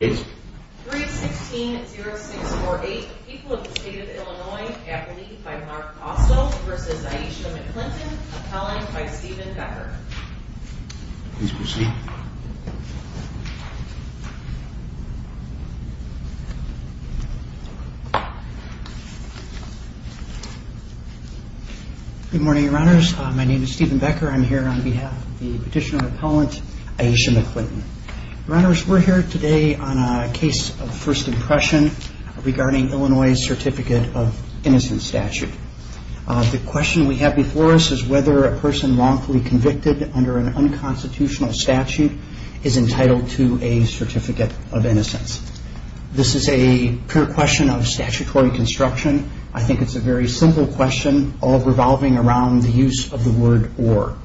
Good morning, Runners. My name is Stephen Becker. I'm here on behalf of the petitioner of Illinois. We're here today on a case of first impression regarding Illinois' certificate of innocence statute. The question we have before us is whether a person wrongfully convicted under an unconstitutional statute is entitled to a certificate of innocence. This is a pure question of statutory construction. I think it's a very simple question, all revolving around the use of the word or.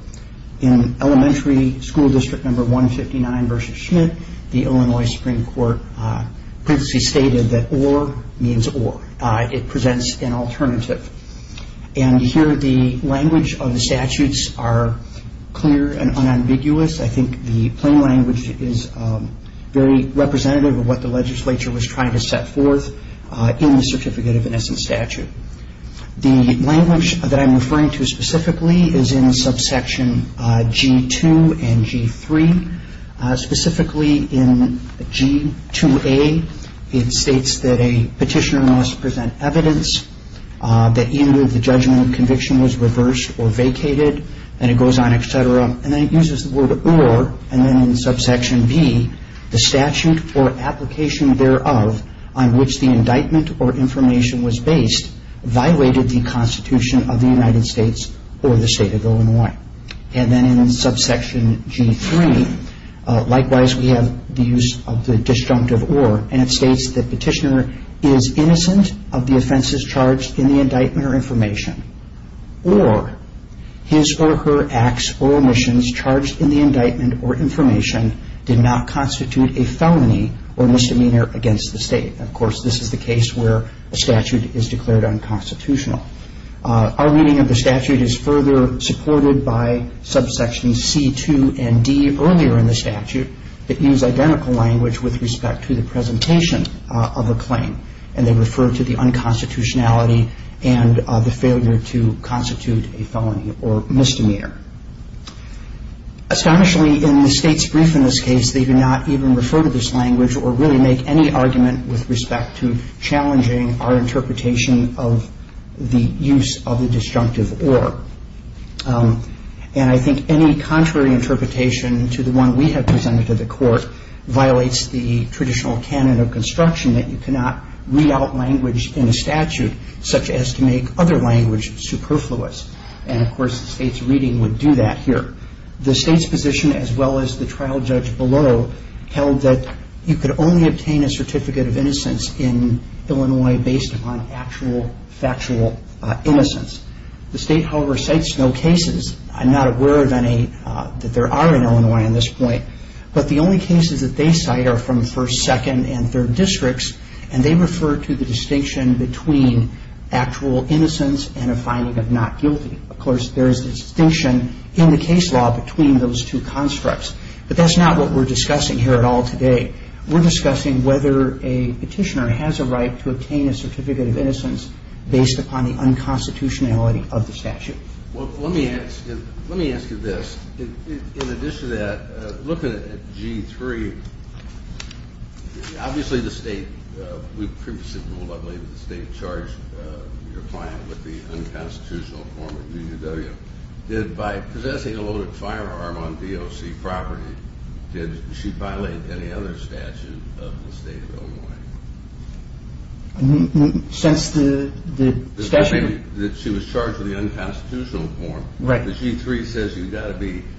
In elementary school district No. 159 v. Schmidt, the Illinois Supreme Court previously stated that or means or. It presents an alternative. And here the language of the statutes are clear and unambiguous. I think the plain language is very representative of what the legislature was trying to set forth in the certificate of innocence statute. The language that I'm referring to specifically is in subsection G2 and G3. Specifically in G2A, it states that a petitioner must present evidence that either the judgment or conviction was reversed or vacated. And it goes on, et cetera. And then it uses the word or, and then in subsection B, the statute or application thereof on which the indictment or information was based, violated the Constitution of the United States or the state of Illinois. And then in subsection G3, likewise we have the use of the disjunctive or, and it states that petitioner is innocent of the offenses charged in the indictment or information. Or, his or her acts or omissions charged in the indictment or information did not constitute a felony or misdemeanor against the state. Of course, this is the case where a statute is declared unconstitutional. Our reading of the statute is further supported by subsections C2 and D earlier in the statute that use identical language with respect to the presentation of a claim. And they refer to the unconstitutionality and the failure to constitute a felony or misdemeanor. Astonishingly, in the state's brief in this case, they do not even refer to this language or really make any argument with respect to challenging our interpretation of the use of the disjunctive or. And I think any contrary interpretation to the one we have presented to the court violates the traditional canon of construction that you cannot read out language in a statute such as to make other language superfluous. And of course, the state's reading would do that here. The state's position, as well as the trial judge below, held that you could only obtain a certificate of innocence in Illinois based upon actual, factual innocence. The state, however, cites no cases. I'm not aware that there are in Illinois at this point. But the only cases that they cite are from first, second, and third districts. And they refer to the distinction between actual innocence and a finding of not guilty. Of course, there is a distinction in the case law between those two constructs. But that's not what we're discussing here at all today. We're discussing whether a petitioner has a right to obtain a certificate of innocence based upon the unconstitutionality of the statute. Well, let me ask you this. In addition to that, looking at G3, obviously the state – we previously ruled, I believe, that the state charged your client with the unconstitutional form of DUW. Did – by possessing a loaded firearm on DOC property, did she violate any other statute of the state of Illinois? Since the – She was charged with the unconstitutional form. Right. The G3 says you've got to be –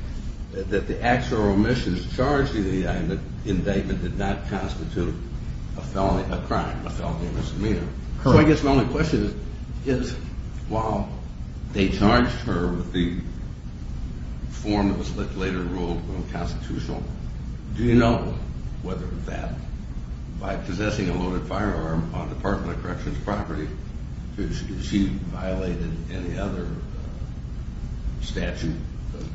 that the acts or omissions charged in the indictment did not constitute a felony – a crime, a felony of misdemeanor. Correct. So I guess my only question is, while they charged her with the form that was later ruled unconstitutional, do you know whether that – by possessing a loaded firearm on DOC property, did she violate any other statute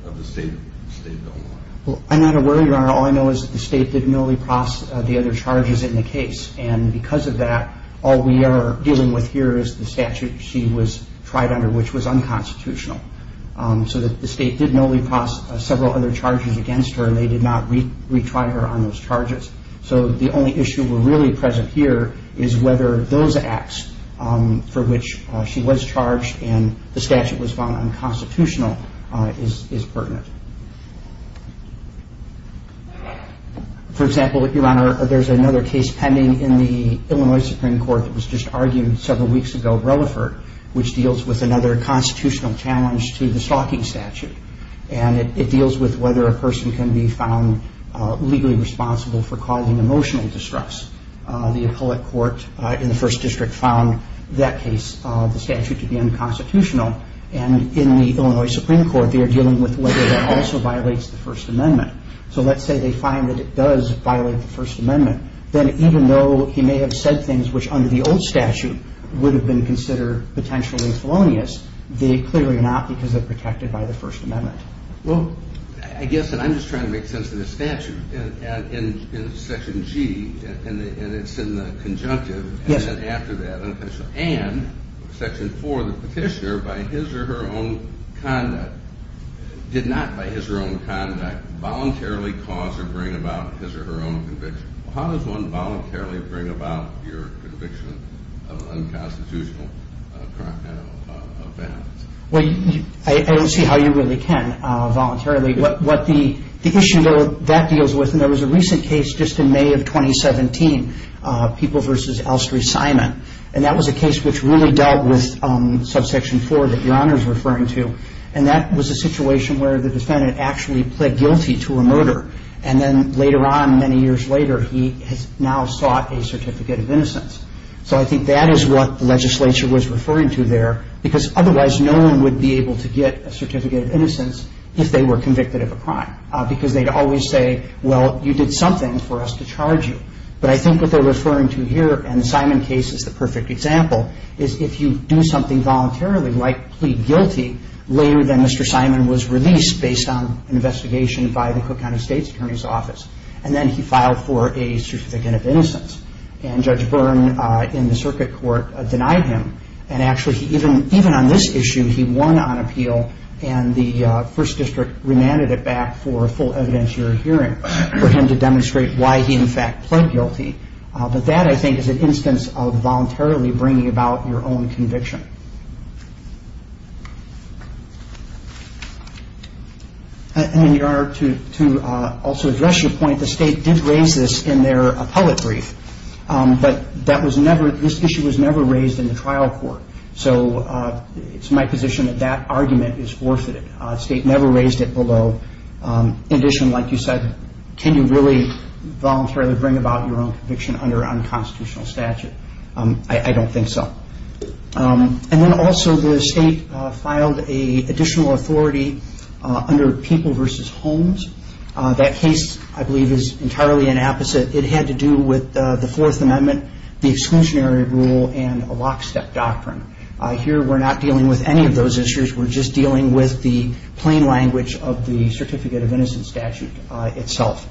of the state of Illinois? Well, I'm not aware, Your Honor. All I know is that the state didn't know the other charges in the case, and because of that, all we are dealing with here is the statute she was tried under, which was unconstitutional. So the state didn't know we passed several other charges against her, and they did not retry her on those charges. So the only issue really present here is whether those acts for which she was charged and the statute was found unconstitutional is pertinent. For example, Your Honor, there's another case pending in the Illinois Supreme Court that was just argued several weeks ago, Relaford, which deals with another constitutional challenge to the stalking statute, and it deals with whether a person can be found legally responsible for causing emotional distress. The appellate court in the First District found that case of the statute to be unconstitutional, and in the Illinois Supreme Court, they are dealing with whether that also violates the First Amendment. So let's say they find that it does violate the First Amendment, then even though he may have said things which under the old statute would have been considered potentially felonious, they clearly are not because they're protected by the First Amendment. Well, I guess, and I'm just trying to make sense of this statute, and Section G, and it's in the conjunctive, and then after that, and Section 4, the petitioner, by his or her own conduct, did not by his or her own conduct voluntarily cause or bring about his or her own conviction. How does one voluntarily bring about your conviction of unconstitutional crime and offense? Well, I don't see how you really can voluntarily. What the issue that that deals with, and there was a recent case just in May of 2017, People v. Elstree Simon, and that was a case which really dealt with Subsection 4 that Your Honor is referring to, and that was a situation where the defendant actually pled guilty to a murder, and then later on, many years later, he has now sought a Certificate of Innocence. So I think that is what the legislature was referring to there, because otherwise, no one would be able to get a Certificate of Innocence if they were convicted of a crime, because they'd always say, well, you did something for us to charge you. But I think what they're referring to here, and the issue is if you do something voluntarily, like plead guilty, later than Mr. Simon was released based on an investigation by the Cook County State's Attorney's Office, and then he filed for a Certificate of Innocence, and Judge Byrne in the circuit court denied him, and actually, even on this issue, he won on appeal, and the First District remanded it back for full evidentiary hearing for him to demonstrate why he, in fact, pled guilty. But that, I think, is an instance of voluntarily bringing about your own conviction. And in your honor, to also address your point, the state did raise this in their appellate brief, but that was never, this issue was never raised in the trial court. So it's my position that that argument is forfeited. The state never raised it, although, in addition, like you said, can you really voluntarily bring about your own conviction under unconstitutional statute? I don't think so. And then also, the state filed an additional authority under people versus homes. That case, I believe, is entirely an opposite. It had to do with the Fourth Amendment, the exclusionary rule, and a lockstep doctrine. Here, we're not dealing with any of those issues. We're just dealing with the plain language of the statute itself.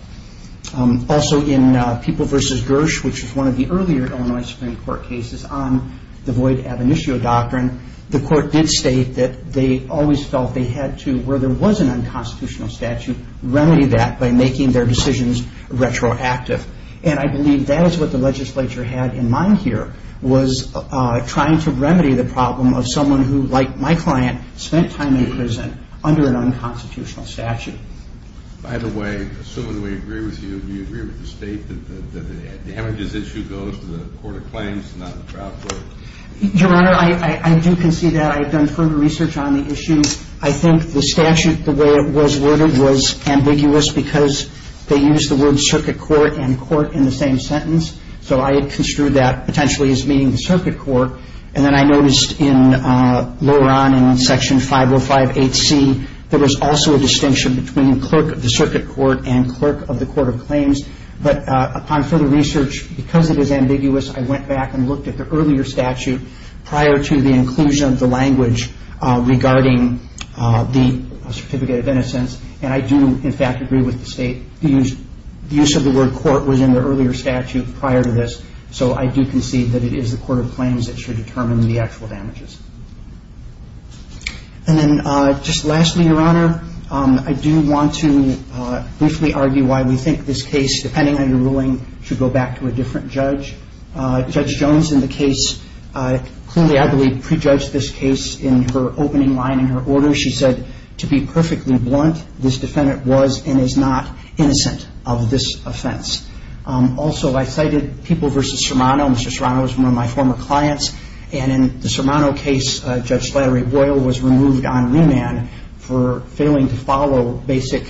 Also, in people versus Gersh, which is one of the earlier Illinois Supreme Court cases on the void ab initio doctrine, the court did state that they always felt they had to, where there was an unconstitutional statute, remedy that by making their decisions retroactive. And I believe that is what the legislature had in mind here, was trying to remedy the problem of someone who, like my client, spent time in prison under an unconstitutional statute. By the way, assuming we agree with you, do you agree with the state that the Heminges issue goes to the court of claims and not the trial court? Your Honor, I do concede that. I have done further research on the issue. I think the statute, the way it was worded, was ambiguous because they used the words circuit court and court in the same sentence. So I had construed that potentially as meaning clerk of the circuit court and clerk of the court of claims. But upon further research, because it is ambiguous, I went back and looked at the earlier statute prior to the inclusion of the language regarding the certificate of innocence. And I do, in fact, agree with the state. The use of the word court was in the earlier statute prior to this. So I do concede that it is the court of claims that should determine the actual damages. And then just lastly, Your Honor, I do want to briefly argue why we think this case, depending on your ruling, should go back to a different judge. Judge Jones in the case clearly, I believe, prejudged this case in her opening line in her order. She said, to be perfectly blunt, this defendant was and is not innocent of this offense. Also, I cited People v. Sermano. Mr. Sermano is one of my former clients. And in the Sermano case, Judge Slattery-Boyle was removed on remand for failing to follow basic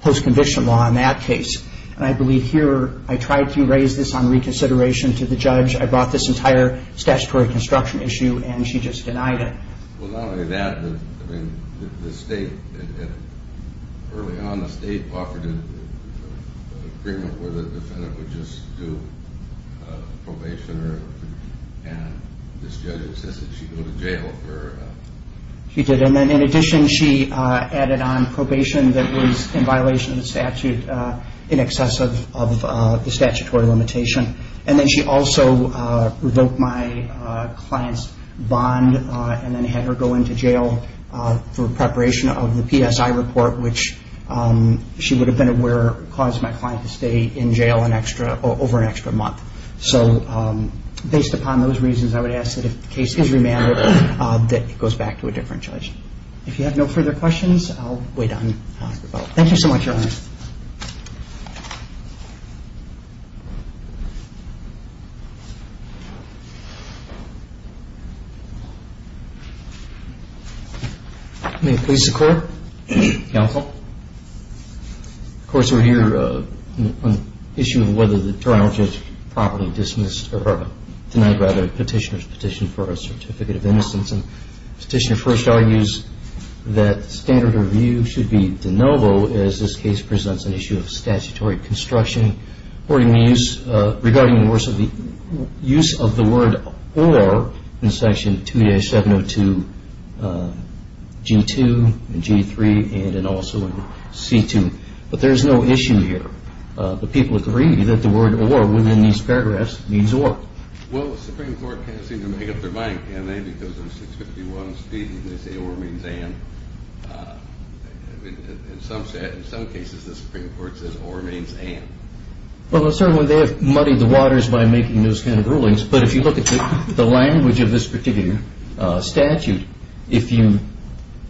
post-conviction law in that case. And I believe here I tried to raise this on reconsideration to the judge. I brought this entire statutory construction issue, and she just denied it. Well, not only that, I mean, the state, early on, the state offered an agreement where the defendant could go to jail. She did. And then in addition, she added on probation that was in violation of the statute in excess of the statutory limitation. And then she also revoked my client's bond and then had her go into jail for preparation of the PSI report, which she would have been aware caused my client to stay in jail over an extra month. So, based upon those reasons, I would ask that if the case is remanded, that it goes back to a different judge. If you have no further questions, I'll wait on your vote. Thank you so much, Your Honor. May it please the Court, Counsel. Of course, we're here on the issue of whether the Toronto Project properly dismissed, or denied, rather, Petitioner's petition for a certificate of innocence. And Petitioner first argues that standard review should be de novo, as this case presents an issue of statutory construction regarding the use of the word or in Section 2-702G2 and G3 and also in C2. But there's no issue here. The people agree that the word or was in these paragraphs means or. Well, the Supreme Court can't seem to make up their mind. And then because there's 651 speeding, they say or means and. In some cases, the Supreme Court says or means and. Well, certainly they have muddied the waters by making those kind of rulings. But if you look at the language of this particular statute, if you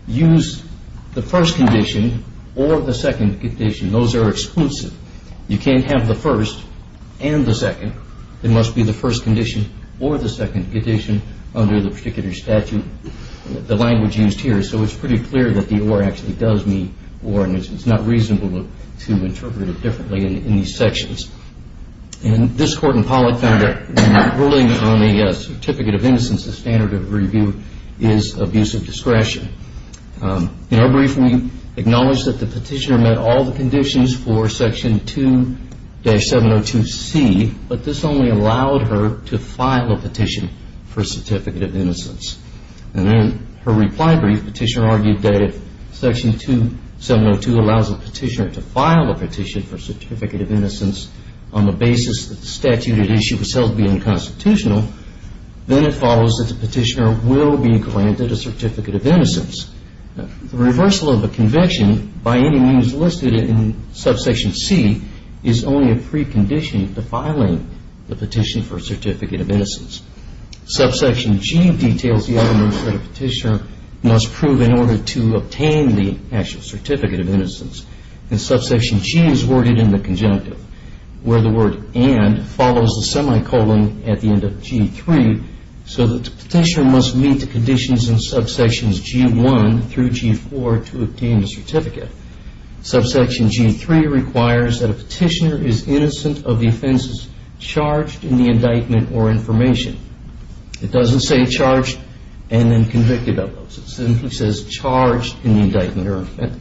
use the first condition or the second condition, those are exclusive. You can't have the first and the second. It must be the first condition or the second condition under the particular statute. The language used here. So it's pretty clear that the or actually does mean or. And it's not reasonable to interpret it differently in these sections. And this Court in Pollack found that ruling on the certificate of innocence, the standard of review, is abuse of discretion. In her brief, we acknowledge that the petitioner met all the conditions for Section 2-702C, but this only allowed her to file a petition for a certificate of innocence. And in her reply brief, the petitioner argued that if Section 2-702 allows the petitioner to file a petition for a certificate of innocence on the basis that the statute at issue was held to be unconstitutional, then it follows that the petitioner will be granted a certificate of innocence. The reversal of the convention, by any means listed in Subsection C, is only a precondition to filing the petition for a certificate of innocence. Subsection G details the evidence that a petitioner must prove in order to obtain the actual certificate of innocence. And Subsection G is worded in the conjunctive, where the word and follows the semicolon at the end of G. So the petitioner must meet the conditions in Subsections G-1 through G-4 to obtain the certificate. Subsection G-3 requires that a petitioner is innocent of the offenses charged in the indictment or information. It doesn't say charged and then convicted of those. It simply says charged in the indictment or information.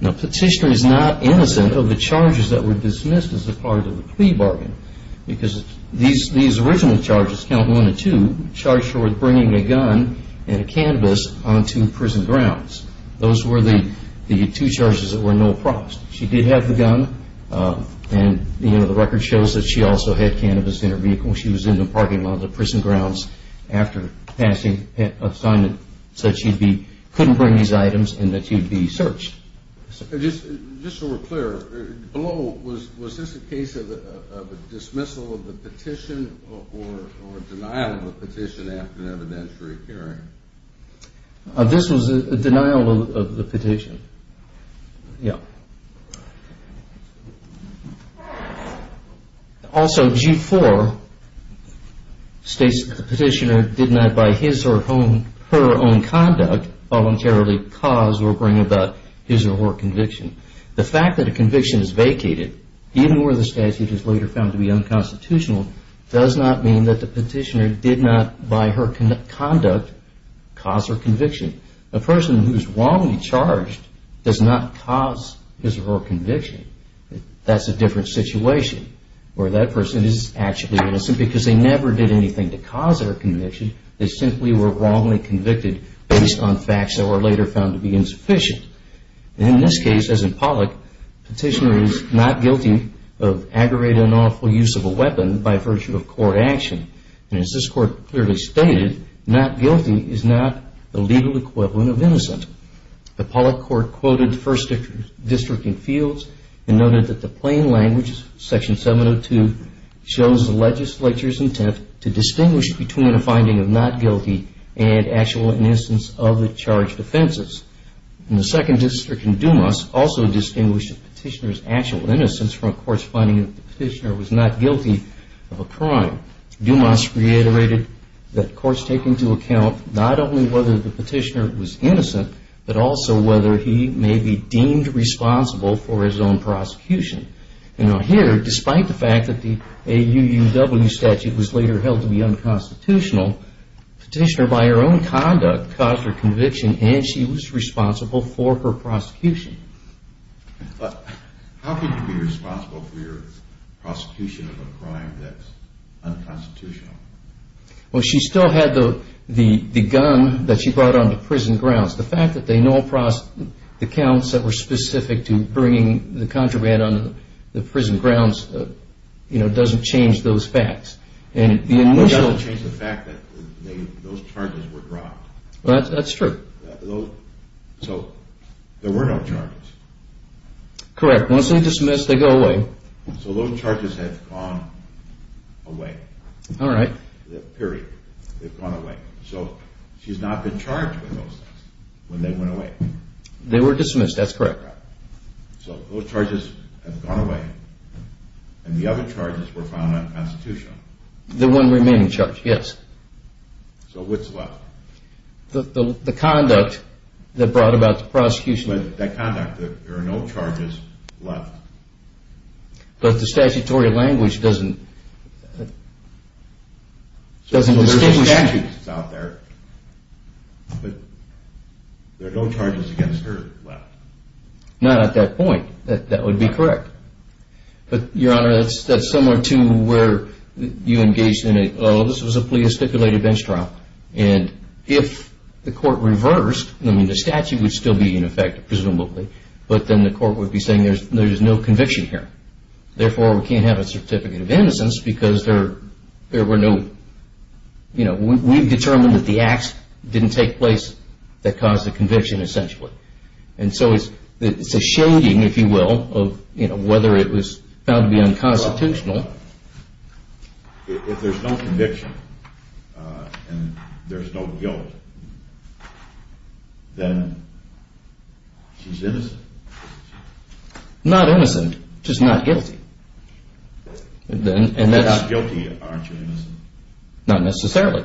Now, a petitioner is not innocent of the charges that were dismissed as part of the plea bargain, because these original charges, count one and two, charged her with bringing a gun and a cannabis onto prison grounds. Those were the two charges that were no props. She did have the gun, and the record shows that she also had cannabis in her vehicle. She was in the parking lot of the prison grounds after passing a sign that said she couldn't bring these items and that she would be searched. Just so we're clear, below, was this a case of a dismissal of the petition or denial of the petition after an evidentiary hearing? This was a denial of the petition. Also, G-4 states that the petitioner did not, by his or her own conduct, voluntarily cause or bring about his or her conviction. The fact that a conviction is vacated, even where the statute is later found to be unconstitutional, does not mean that the petitioner did not, by her conduct, cause her conviction. A person who is wrongly charged does not cause his or her conviction. That's a different situation, where that person is actually innocent because they never did anything to cause their conviction. They simply were wrongly convicted based on facts that were later found to be insufficient. In this case, as in Pollock, the petitioner is not guilty of aggravated or unlawful use of a weapon by virtue of court action. As this Court clearly stated, not guilty is not the legal equivalent of innocent. The Pollock Court quoted First District in Fields and noted that the plain language, Section 702, shows the legislature's intent to distinguish between a finding of not guilty and actual innocence of the charged offenses. The Second District in Dumas also distinguished the petitioner's actual innocence from a court's finding that the petitioner was not guilty of a crime. Dumas reiterated that courts take into account not only whether the petitioner was innocent, but also whether he may be deemed responsible for his own prosecution. Here, despite the fact that the AUUW statute was later held to be unconstitutional, the petitioner, by her own conduct, caused her conviction and she was wrongly charged. The petitioner was not guilty of a crime, but the court found that she was responsible for her prosecution. How could you be responsible for your prosecution of a crime that is unconstitutional? She still had the gun that she brought onto prison grounds. The fact that the counts that were specific to bringing the contraband onto the prison grounds doesn't change those facts. It doesn't change the fact that those charges were dropped. That's true. So there were no charges. Correct. Once they're dismissed, they go away. So those charges have gone away. All right. So she's not been charged with those things when they went away. They were dismissed, that's correct. So those charges have gone away and the other charges were found unconstitutional. The one remaining charge, yes. So what's left? The conduct that brought about the prosecution. There are no charges left. But the statutory language doesn't distinguish. There are no charges against her left. Not at that point, that would be correct. Your Honor, that's similar to where you engaged in a plea of stipulated bench trial and if the court reversed, the statute would still be in effect presumably, but then the court would be saying there's no conviction here. Therefore, we can't have a certificate of innocence because there were no we've determined that the acts didn't take place that caused the conviction essentially. And so it's a shading, if you will, of whether it was found to be unconstitutional. If there's no conviction and there's no guilt, then she's innocent? Not innocent, just not guilty. Not guilty, aren't you innocent? Not necessarily.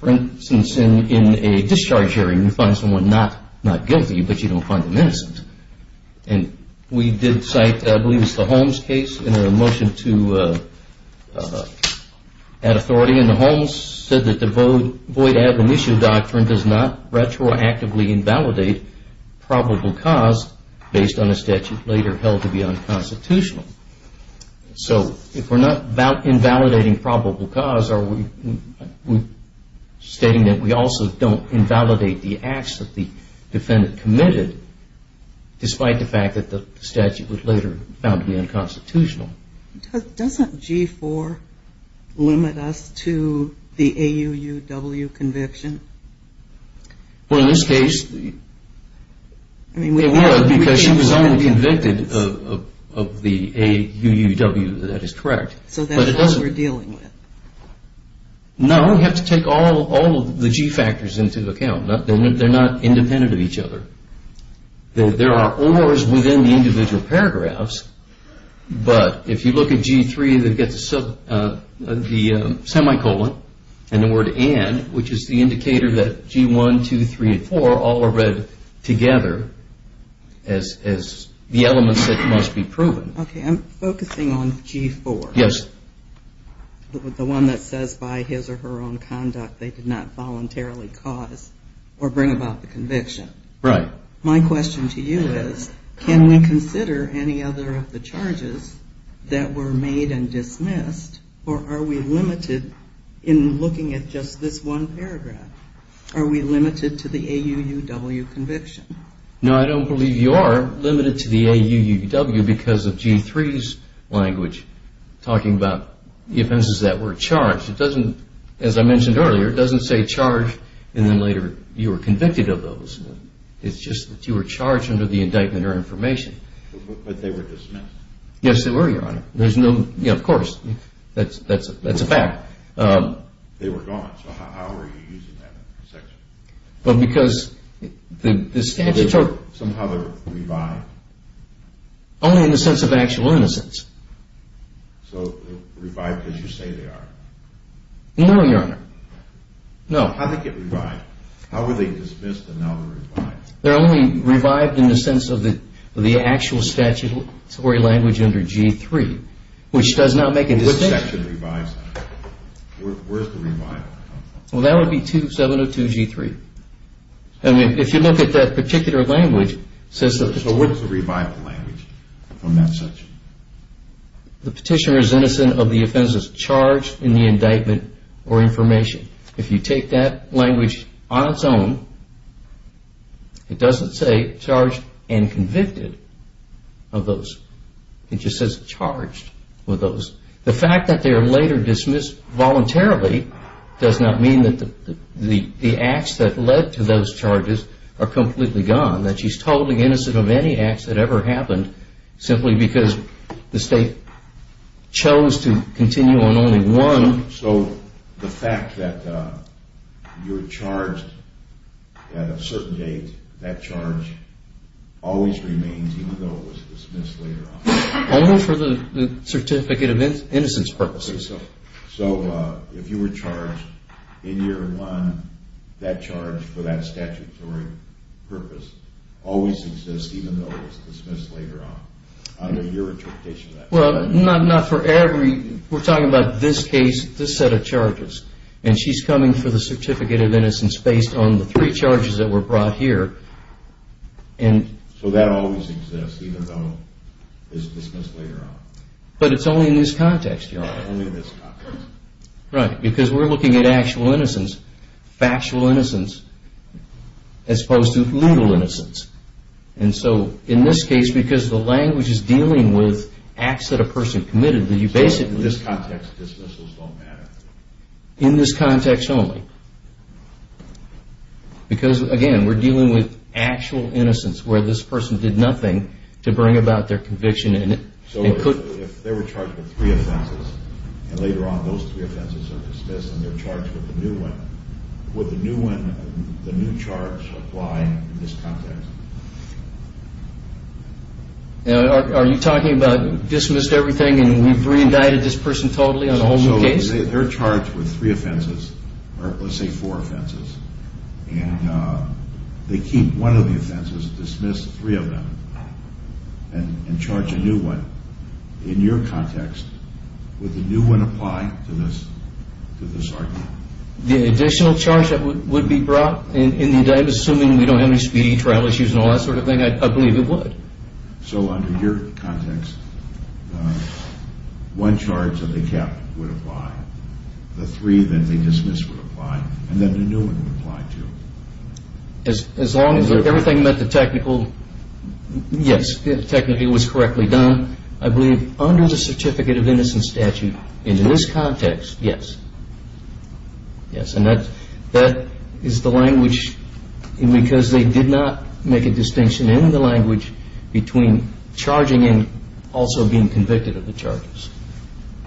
For instance, in a discharge hearing, you find someone not guilty, but you don't find them innocent. And we did cite, I believe it was the Holmes case in a motion to add authority and the Holmes said that the void admonition doctrine does not found to be unconstitutional. So if we're not invalidating probable cause, are we stating that we also don't invalidate the acts that the defendant committed, despite the fact that the statute would later found to be unconstitutional? Doesn't G-4 limit us to the AUUW conviction? Well, in this case, it would because she was only convicted of the AUUW, that is correct. So that's what we're dealing with. No, we have to take all of the G factors into account. They're not independent of each other. There are ORs within the individual paragraphs, but if you look at G-3, they've got the semicolon and the word and, which is the indicator that G-1, 2, 3, and 4 all are read together as the elements that must be proven. Okay, I'm focusing on G-4, the one that says by his or her own conduct they did not voluntarily cause or bring about the conviction. My question to you is, can we consider any other of the charges that were made and dismissed, or are we limited in looking at just this one paragraph? Are we limited to the AUUW conviction? No, I don't believe you are limited to the AUUW because of G-3's language talking about the offenses that were charged. It doesn't, as I mentioned earlier, it doesn't say charged and then later you were convicted of those. It's just that you were charged under the indictment or information. But they were dismissed? Yes, they were, Your Honor. Of course, that's a fact. They were gone, so how were you using that section? Somehow they were revived? Only in the sense of actual innocence. So revived because you say they are? No, Your Honor. No. How did they get revived? How were they dismissed and now they're revived? They're only revived in the sense of the actual statutory language under G-3, which does not make a distinction. What section revives that? Where's the revival? Well, that would be 702 G-3. If you look at that particular language, So where's the revival language from that section? The petitioner is innocent of the offenses charged in the indictment or information. If you take that language on its own, it doesn't say charged and convicted of those. It just says charged with those. The fact that they are later dismissed voluntarily does not mean that the acts that led to those charges are completely gone, that she's totally innocent of any acts that ever happened simply because the state chose to continue on only one. So the fact that you're charged at a certain date, that charge always remains even though it was dismissed later on? Only for the one, that charge for that statutory purpose always exists even though it was dismissed later on, under your interpretation of that? We're talking about this case, this set of charges, and she's coming for the Certificate of Innocence based on the three charges that were brought here. So that always exists even though it's dismissed later on? But it's only in this context, Your Honor. Because we're looking at actual innocence, factual innocence, as opposed to legal innocence. And so in this case, because the language is dealing with acts that a person committed. So in this context dismissals don't matter? In this context only. Because again, we're dealing with actual innocence, where this person did nothing to bring about their conviction. So if they were charged with three offenses, and later on those three offenses are dismissed, and they're charged with a new one, would the new charge apply in this context? Are you talking about dismissed everything and we've re-indicted this person totally on a whole new case? They're charged with three offenses, or let's say four offenses, and they keep one of the offenses, dismiss three of them, and charge a new one. In your context, would the new one apply to this argument? The additional charge that would be brought in the indictment, assuming we don't have any speedy trial issues and all that sort of thing, I believe it would. So under your context, one charge of the cap would apply. The three that they dismiss would apply. And then the new one would apply too. As long as everything met the technical... Yes, technically it was correctly done. I believe under the Certificate of Innocence Statute, in this context, yes. And that is the language, because they did not make a distinction in the language between charging and also being convicted of the charges.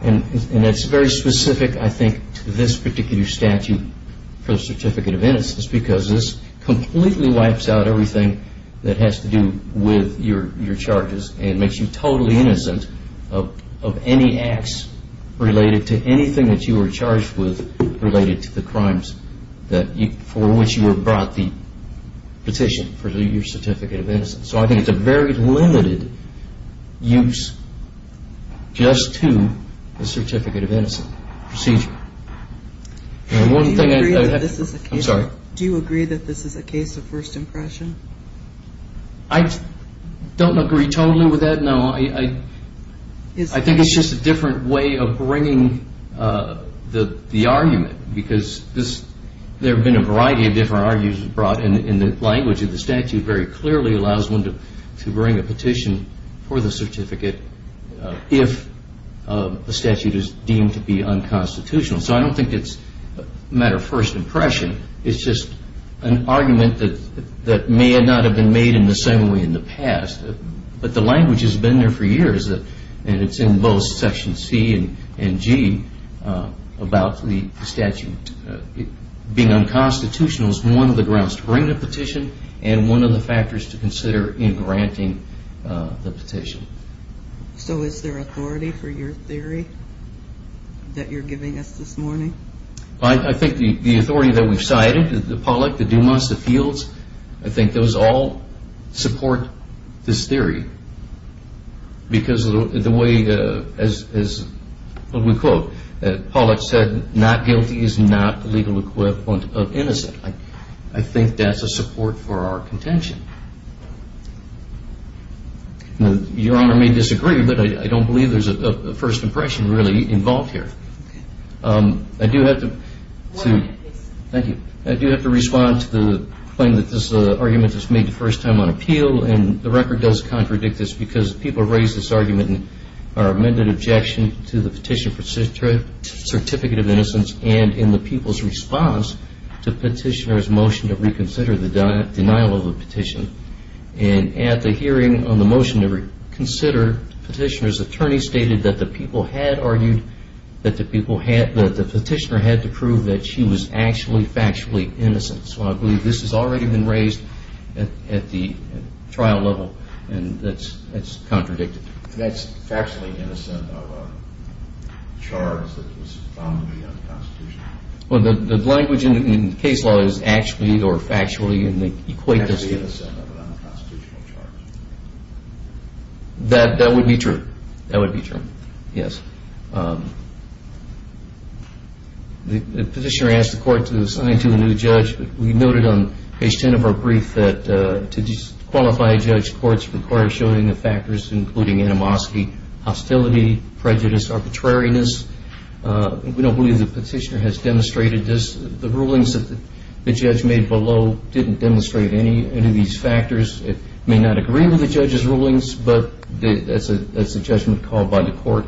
And that's very specific, I think, to this particular statute for the Certificate of Innocence, because this completely wipes out everything that has to do with your charges and makes you totally innocent of any acts related to anything that you were charged with related to the crimes for which you were brought the petition for your Certificate of Innocence. So I think it's a very limited use just to the Certificate of Innocence procedure. Do you agree that this is a case of first impression? I don't agree totally with that, no. I think it's just a different way of bringing the argument, because there have been a variety of different arguments brought in the language of the statute very clearly allows one to bring a petition for the certificate if the statute is deemed to be unconstitutional. So I don't think it's a matter of first impression. It's just an argument that may not have been made in the same way in the past. But the language has been there for years, and it's in both Section C and G about the statute being unconstitutional as one of the grounds to bring the petition and one of the factors to consider in granting the petition. So is there authority for your theory that you're giving us this morning? I think the authority that we've cited, the Pollack, the Dumas, the Fields, I think those all support this theory. Because the way, as we quote, Pollack said, not guilty is not the legal equivalent of innocent. I think that's a support for our contention. Your Honor may disagree, but I don't believe there's a first impression really involved here. I do have to respond to the claim that this argument is made the first time on appeal, and the record does contradict this because people raise this argument in our amended objection to the petition for certificate of innocence and in the people's response to petitioner's motion to reconsider the denial of the petition. And at the hearing on the motion to reconsider, petitioner's attorney stated that the petitioner had to prove that she was actually factually innocent. So I believe this has already been raised at the trial level, and that's contradicted. That's factually innocent of a charge that was found to be unconstitutional. Well, the language in the case law is actually or factually in the equation. That would be true. That would be true, yes. The petitioner asked the court to assign to a new judge. We noted on page 10 of our brief that to disqualify a judge, courts require showing the factors including animosity, hostility, prejudice, arbitrariness. We don't believe the petitioner has demonstrated this. The rulings that the judge made below didn't demonstrate any of these factors. It may not agree with the judge's rulings, but that's a judgment called by the court.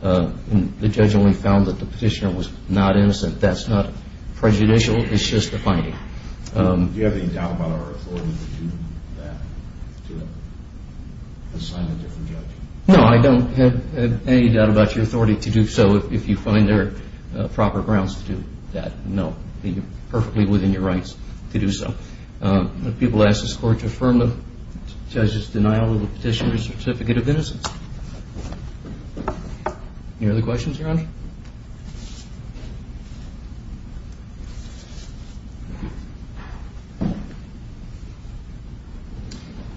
The judge only found that the petitioner was not innocent. That's not prejudicial. It's just a finding. Do you have any doubt about our authority to do that? To assign a different judge? No, I don't have any doubt about your authority to do so if you find there are proper grounds to do that. No, you're perfectly within your rights to do so. People ask this court to affirm the judge's denial of the petitioner's certificate of innocence. Any other questions, Your Honor?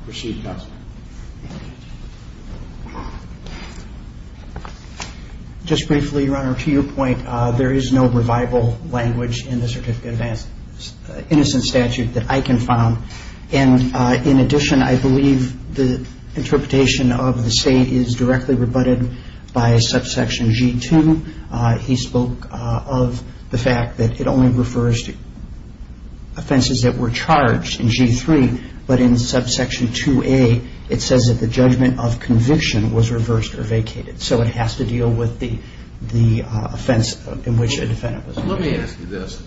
Proceed, Counsel. Just briefly, Your Honor, to your point, there is no revival language in the certificate of innocence statute that I can found. And in addition, I believe the interpretation of the state is directly rebutted by subsection G2. He spoke of the fact that it only refers to offenses that were charged in G3, but in subsection 2A, it says that the judgment of conviction was reversed or vacated. So it has to deal with the offense in which a defendant was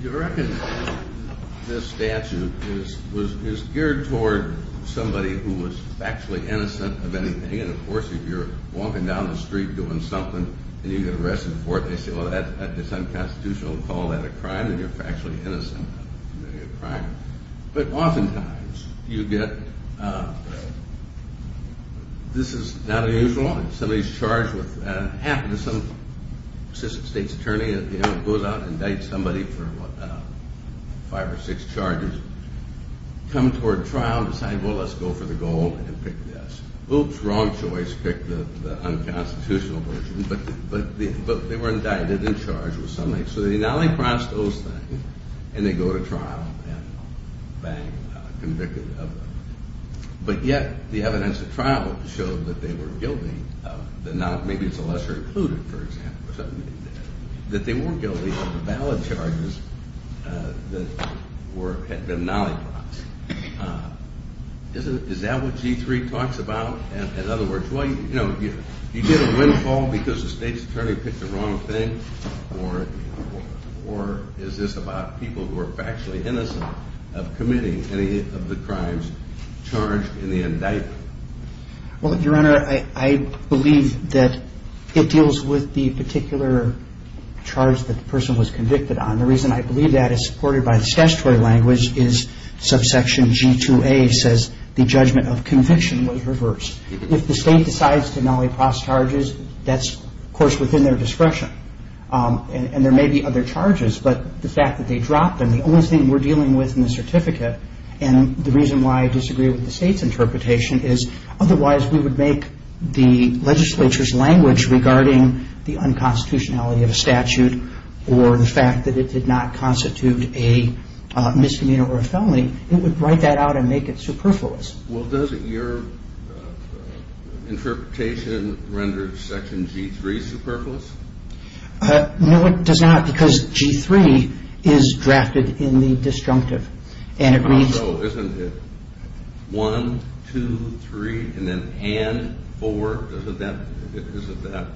You reckon this statute is geared toward somebody who was factually innocent of anything? And of course, if you're walking down the street doing something and you get arrested for it, they say, well, that's unconstitutional and call that a crime and you're factually innocent of committing a crime. But oftentimes, you get this is not unusual. Somebody's charged with, happened to some state's attorney, goes out and indicts somebody for five or six charges, come toward trial and decide, well, let's go for the gold and pick this. Oops, wrong choice, pick the unconstitutional version. But they were indicted and charged with something. So they now cross those things and they go to trial and, bang, convicted. But yet the evidence at trial showed that they were guilty of the not, maybe it's a lesser included, for example, that they weren't guilty of the valid charges that were, had been nollied. Is that what G3 talks about? In other words, well, you know, you get a windfall because the state's attorney picked the wrong thing or is this about people who are factually innocent of committing any of the crimes charged in the indictment? Well, Your Honor, I believe that it deals with the particular charge that the person was convicted on. The reason I believe that is supported by the statutory language is subsection G2A says the judgment of conviction was reversed. If the state decides to drop the charges, there may be other charges, but the fact that they dropped them, the only thing we're dealing with in the certificate, and the reason why I disagree with the state's interpretation is otherwise we would make the legislature's language regarding the unconstitutionality of a statute or the fact that it did not constitute a misdemeanor or a felony, it would write that out and make it superfluous. Well, doesn't your Your Honor, because G3 is drafted in the disjunctive and it reads Isn't it 1, 2, 3, and then and 4? Isn't that?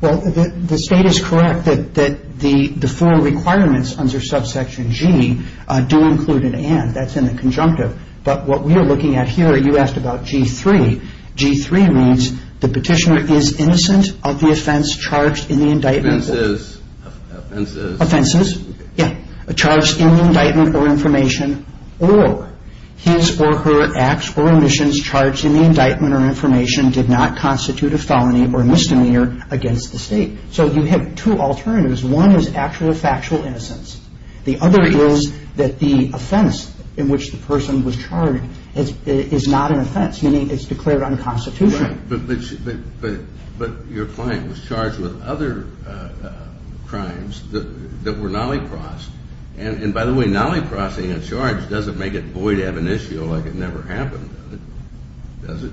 Well, the state is correct that the four requirements under subsection G do include an and. That's in the conjunctive, but what we are looking at here, you asked about G3. G3 means the petitioner is innocent of the offense charged in the indictment. Offenses. Offenses. Yeah. Charged in the indictment or information or his or her acts or omissions charged in the indictment or information did not constitute a felony or misdemeanor against the state. So you have two alternatives. One is actual or factual innocence. The other is that the offense in which the person was charged is not an offense, meaning it's declared unconstitutional. But your client was charged with other crimes that were nolly-crossed. And by the way, nolly-crossing a charge doesn't make it void ab initio like it never happened, does it?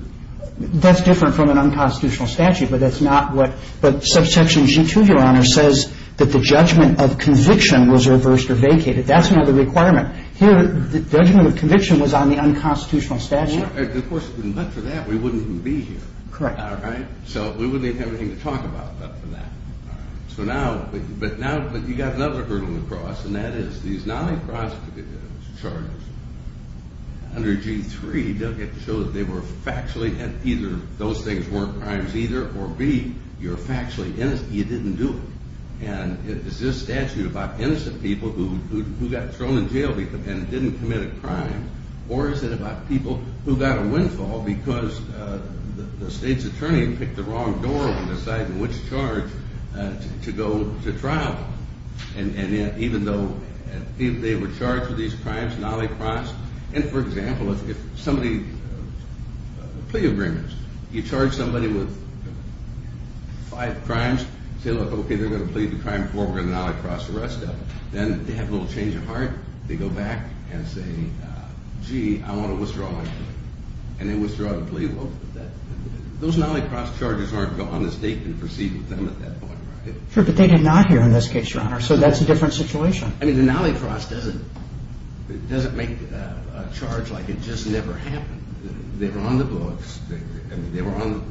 That's different from an unconstitutional statute, but that's not what – but subsection G2, Your Honor, says that the judgment of conviction was reversed or vacated. That's another requirement. Here, the judgment of conviction was on the unconstitutional statute. Of course, but for that we wouldn't even be here. Correct. So we wouldn't even have anything to talk about but for that. So now, but you've got another hurdle to cross, and that is these nolly-crossed charges under G3 don't get to show that they were factually – either those things weren't crimes either, or B, you're factually innocent, you didn't do it. And is this statute about innocent people who got thrown in jail and didn't commit a crime, or is it about people who got a windfall because the state's attorney picked the wrong door when deciding which charge to go to trial even though they were charged with these crimes, nolly-crossed. And for example, if somebody – plea agreements. You charge somebody with five crimes, say, look, okay, they're going to plead the crime before we're going to nolly-cross the rest of them. Then they have a little change of heart. They go back and say, gee, I want to withdraw my claim. And they withdraw the plea. Well, those nolly-crossed charges aren't on the state to proceed with them at that point, right? Sure, but they did not here in this case, Your Honor, so that's a different situation. I mean, the nolly-cross doesn't make a charge like it just never happened. They were on the books.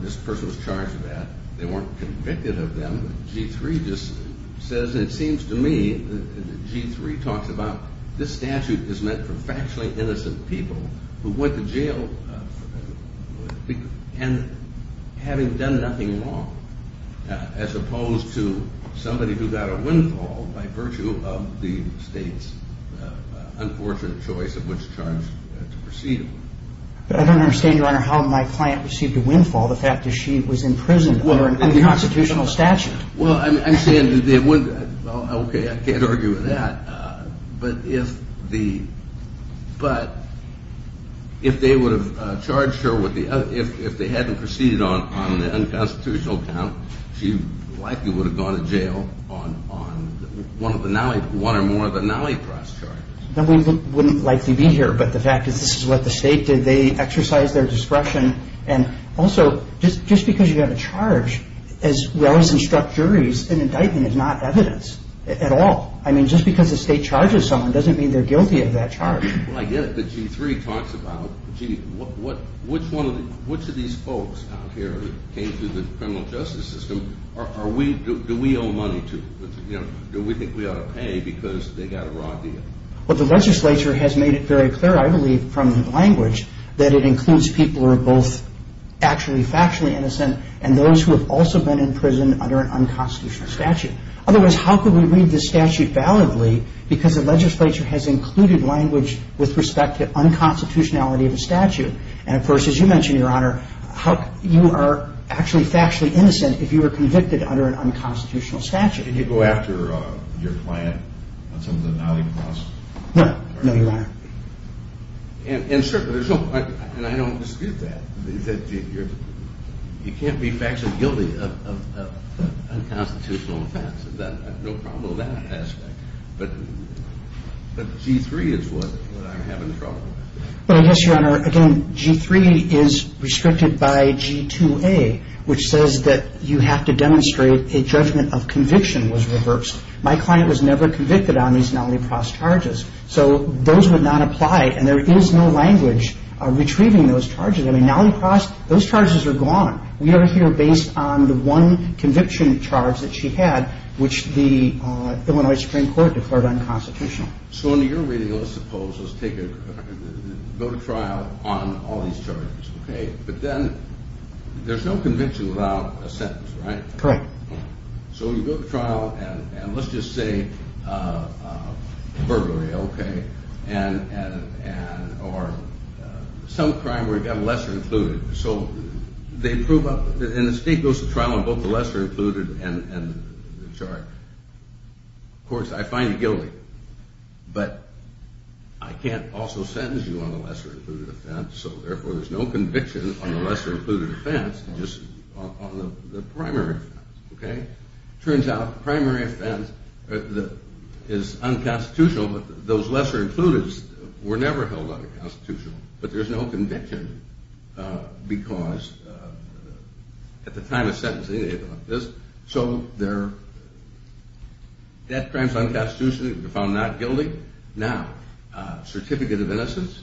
This person was charged with that. They weren't convicted of them. G-3 just says, it seems to me that G-3 talks about this statute is meant for factually innocent people who went to jail and having done nothing wrong, as opposed to somebody who got a windfall by virtue of the state's unfortunate choice of which charge to proceed with. I don't understand, Your Honor, how my client received a windfall. The fact that she was in prison under an unconstitutional statute. Well, I'm saying that they would – okay, I can't argue with that. But if the – but under the usual account, she likely would have gone to jail on one of the nolly – one or more of the nolly-crossed charges. Then we wouldn't likely be here, but the fact is this is what the state did. They exercised their discretion. And also, just because you have a charge as well as instruct juries, an indictment is not evidence at all. I mean, just because the state charges someone doesn't mean they're guilty of that charge. Well, I get it, but G-3 talks about, gee, which of these folks out here came through the criminal justice system are we – do we owe money to? Do we think we ought to pay because they got a raw deal? Well, the legislature has made it very clear, I believe, from the language that it includes people who are both actually factually innocent and those who have also been in prison under an unconstitutional statute. Otherwise, how could we read this statute validly because the legislature has included language with respect to unconstitutionality of a statute? And, of course, as you mentioned, Your Honor, how – you are actually factually innocent if you were convicted under an unconstitutional statute. Can you go after your client on some of the nolly-cross? No. No, Your Honor. And certainly, there's no – and I don't dispute that. You can't be factually guilty of unconstitutional offense. There's no problem with that aspect. But G-3 is what I'm having trouble with. But, I guess, Your Honor, again, G-3 is restricted by G-2A, which says that you have to demonstrate a judgment of conviction was reversed. My client was never convicted on these nolly-cross charges. So those would not apply, and there is no language retrieving those charges. I mean, nolly-cross – those charges are gone. We are here based on the one conviction charge that she had, which the Illinois Supreme Court declared unconstitutional. So in your reading, let's suppose – let's take a – go to trial on all these charges, okay? But then, there's no conviction without a sentence, right? Correct. So you go to trial, and let's just say burglary, okay, and – or some crime where you've got a lesser-included. So they prove up – and the State goes to trial on both the lesser-included and the charge. Of course, I find you guilty, but I can't also sentence you on the lesser-included offense, so therefore, there's no conviction on the lesser-included offense, just on the primary offense, okay? Turns out, the primary offense is unconstitutional, but those lesser-included were never held unconstitutional, but there's no conviction because – at the time of sentencing, anything like this. So they're – that crime's unconstitutional. You're found not guilty. Now, certificate of innocence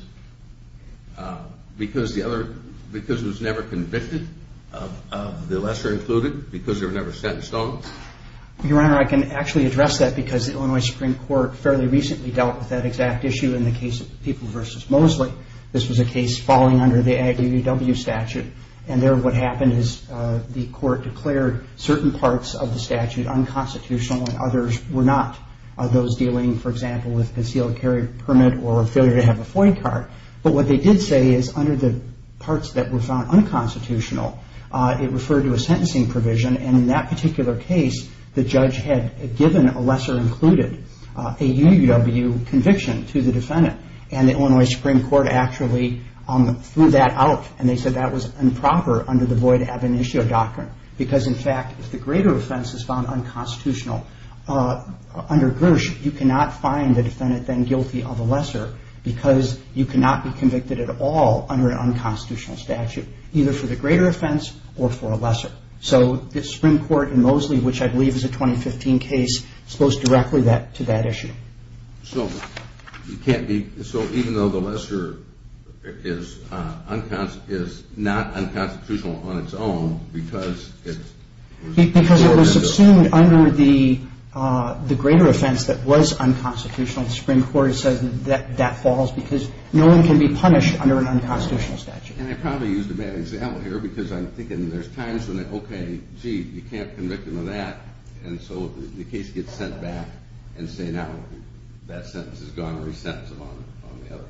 because the other – because it was never convicted of the lesser-included, because they were never sentenced on them? Your Honor, I can actually address that, because the Illinois Supreme Court fairly recently dealt with that exact issue in the case of People v. Mosley. This was a case falling under the AGUW statute, and there, what happened is the court declared certain parts of the statute unconstitutional, and others were not. Those dealing, for example, with concealed carry permit or a failure to have a FOIA card. But what they did say is, under the parts that were found unconstitutional, it referred to a sentencing provision, and in that particular case, the judge had given a lesser-included AGUW conviction to the defendant, and the Illinois Supreme Court actually threw that out, and they said that was improper under the void ab initio doctrine, because in fact, if the greater offense is found unconstitutional under Gersh, you cannot find the defendant then guilty of a lesser, because you cannot be convicted at all under an unconstitutional statute, either for the greater offense or for a lesser. So the Supreme Court in Mosley, which I believe is a 2015 case, exposed directly to that issue. So you can't be – so even though the lesser is not unconstitutional on its own, because it was – Because it was assumed under the greater offense that was unconstitutional, the Supreme Court said that that falls, because no one can be punished under an unconstitutional statute. And I probably used a bad example here, because I'm thinking there's times when, okay, gee, you can't convict him of that, and so the case gets sent back and say, now that sentence is gone, resentence him on the other.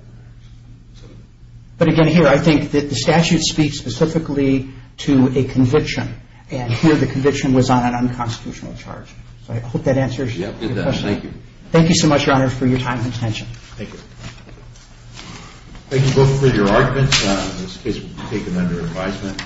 But again, here, I think that the statute speaks specifically to a conviction, and here the conviction was on an unconstitutional charge. So I hope that answers your question. Thank you. Thank you so much, Your Honor, for your time and attention. Thank you. Thank you both for your arguments. In this case, we'll take them under advisement.